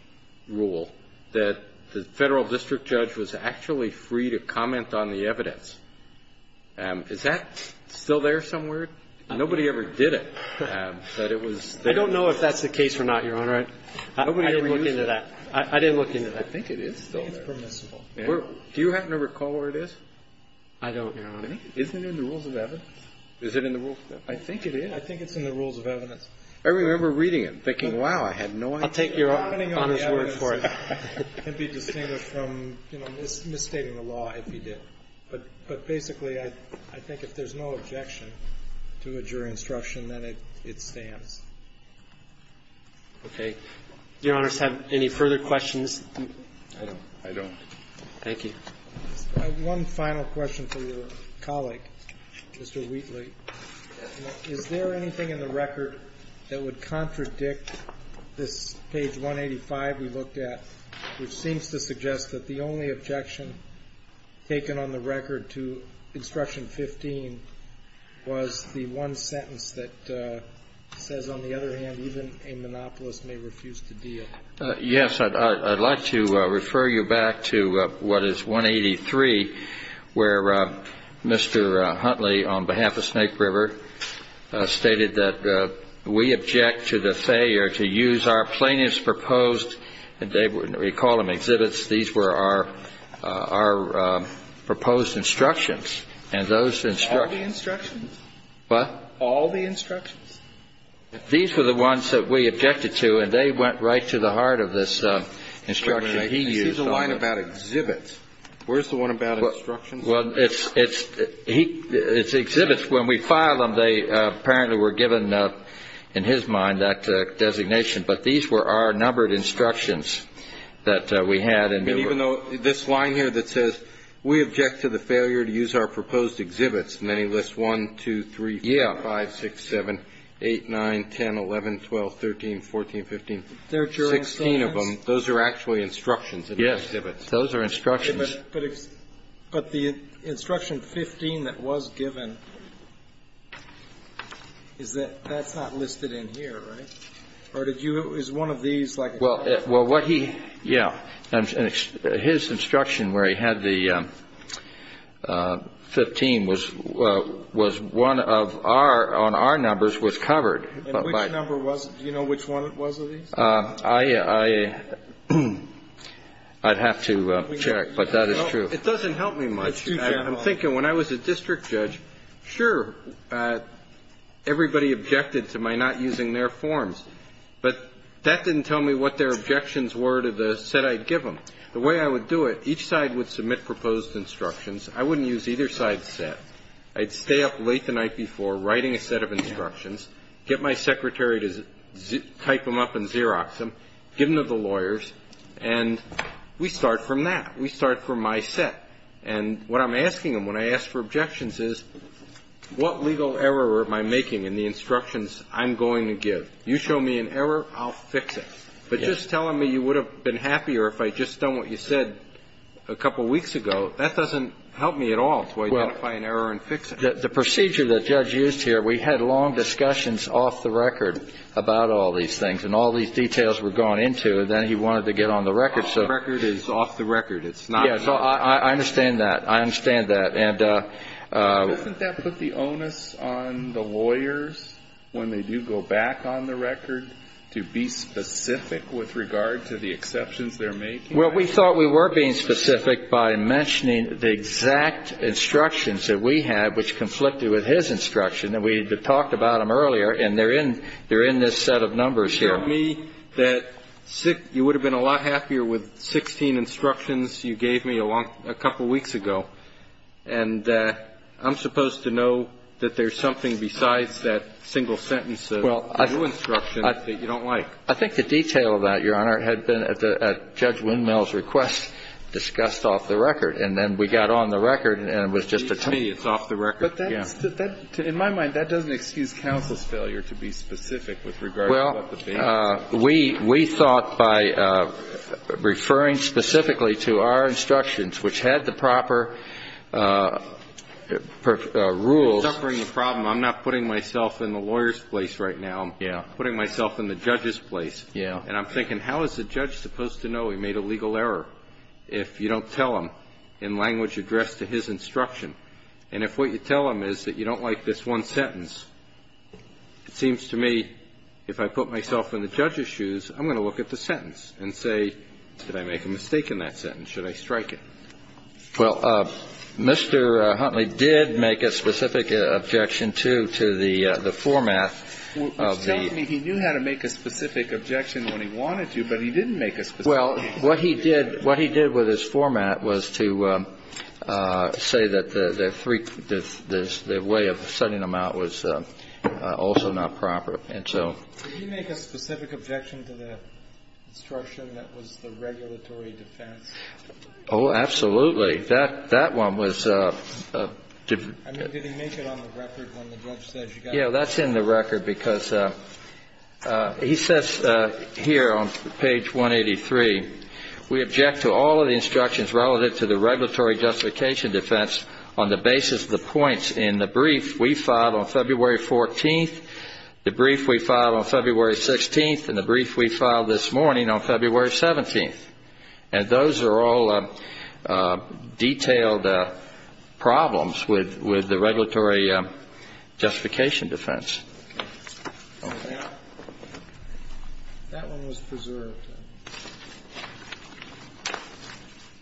rule, that the Federal district judge was actually free to comment on the evidence. Is that still there somewhere? Nobody ever did it, but it was there. I don't know if that's the case or not, Your Honor. I didn't look into that. I think it is still there. I think it's permissible. Do you happen to recall where it is? I don't, Your Honor. Isn't it in the Rules of Evidence? Is it in the Rules of Evidence? I think it is. I think it's in the Rules of Evidence. I remember reading it and thinking, wow, I had no idea. I'll take Your Honor's word for it. It can be distinguished from, you know, misstating the law if you did. But basically, I think if there's no objection to a jury instruction, then it stands. Okay. Do Your Honors have any further questions? I don't. I don't. Thank you. I have one final question for your colleague, Mr. Wheatley. Is there anything in the record that would contradict this page 185 we looked at, which seems to suggest that the only objection taken on the record to instruction 15 was the one sentence that says, on the other hand, even a monopolist may refuse to deal? Yes. I'd like to refer you back to what is 183, where Mr. Huntley, on behalf of Snake River, stated that we object to the failure to use our plaintiff's proposed, and we call them exhibits, these were our proposed instructions. What? All the instructions? These were the ones that we objected to, and they went right to the heart of this instruction he used. Wait a minute. This is a line about exhibits. Where's the one about instructions? Well, it's exhibits. When we filed them, they apparently were given, in his mind, that designation. But these were our numbered instructions that we had. And even though this line here that says we object to the failure to use our proposed exhibits, many lists, 1, 2, 3, 4, 5, 6, 7, 8, 9, 10, 11, 12, 13, 14, 15, 16 of them, those are actually instructions. Yes. Those are instructions. But the instruction 15 that was given is that that's not listed in here, right? Or did you do one of these? Well, what he, yeah, his instruction where he had the 15 was one of our, on our numbers, was covered. And which number was it? Do you know which one it was of these? I'd have to check, but that is true. It doesn't help me much. It's too general. I'm thinking when I was a district judge, sure, everybody objected to my not using their forms. But that didn't tell me what their objections were to the set I'd give them. The way I would do it, each side would submit proposed instructions. I wouldn't use either side's set. I'd stay up late the night before writing a set of instructions, get my secretary to type them up and Xerox them, give them to the lawyers, and we start from that. We start from my set. And what I'm asking them when I ask for objections is what legal error am I making in the instructions I'm going to give? You show me an error, I'll fix it. But just telling me you would have been happier if I'd just done what you said a couple weeks ago, that doesn't help me at all to identify an error and fix it. Well, the procedure that Judge used here, we had long discussions off the record about all these things. And all these details were gone into, and then he wanted to get on the record. Off the record is off the record. It's not. So I understand that. I understand that. Doesn't that put the onus on the lawyers, when they do go back on the record, to be specific with regard to the exceptions they're making? Well, we thought we were being specific by mentioning the exact instructions that we had, which conflicted with his instruction. And we had talked about them earlier, and they're in this set of numbers here. You showed me that you would have been a lot happier with 16 instructions you gave me a couple weeks ago. And I'm supposed to know that there's something besides that single sentence of your instruction that you don't like. I think the detail of that, Your Honor, had been at Judge Windmill's request, discussed off the record. And then we got on the record, and it was just a total. To me, it's off the record. But in my mind, that doesn't excuse counsel's failure to be specific with regard to what the base is. Well, we thought by referring specifically to our instructions, which had the proper rules. I'm suffering a problem. I'm not putting myself in the lawyer's place right now. I'm putting myself in the judge's place. And I'm thinking, how is the judge supposed to know he made a legal error if you don't tell him in language addressed to his instruction? And if what you tell him is that you don't like this one sentence, it seems to me if I put myself in the judge's shoes, I'm going to look at the sentence and say, did I make a mistake in that sentence? Should I strike it? Well, Mr. Huntley did make a specific objection to the format of the ---- Which tells me he knew how to make a specific objection when he wanted to, but he didn't make a specific objection. Well, what he did with his format was to say that the way of sending them out was also not proper. And so ---- Did he make a specific objection to the instruction that was the regulatory defense? Oh, absolutely. That one was ---- I mean, did he make it on the record when the judge said you got to ---- Yeah, that's in the record because he says here on page 183, we object to all of the instructions relative to the regulatory justification defense on the basis of the points in the brief we filed on February 14th, the brief we filed on February 16th, and the brief we filed this morning on February 17th. And those are all detailed problems with the regulatory justification defense. Okay. That one was preserved.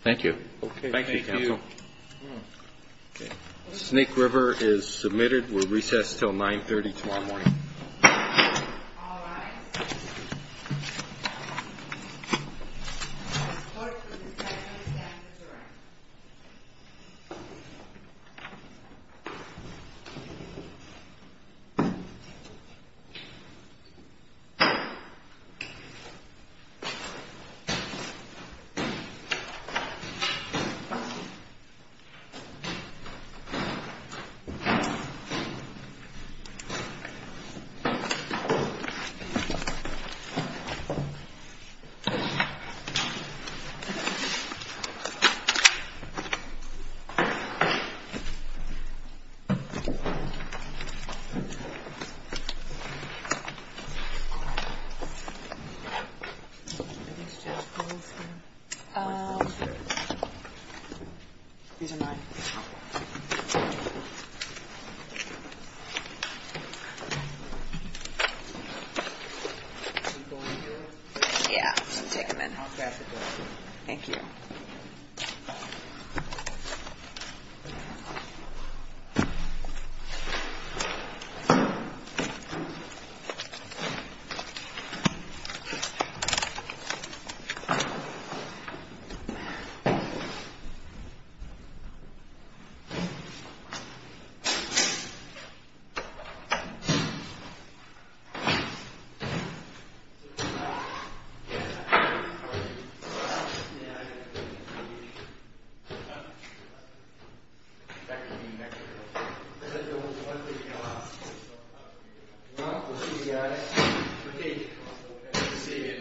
Thank you. Thank you, counsel. Okay. Snake River is submitted. We're recessed until 930 tomorrow morning. All right. Thank you. Thank you. Thank you. Thank you. Thank you. Thank you. Yeah. Thank you. Thank you. Thank you. Thank you. Thank you.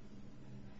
Thank you.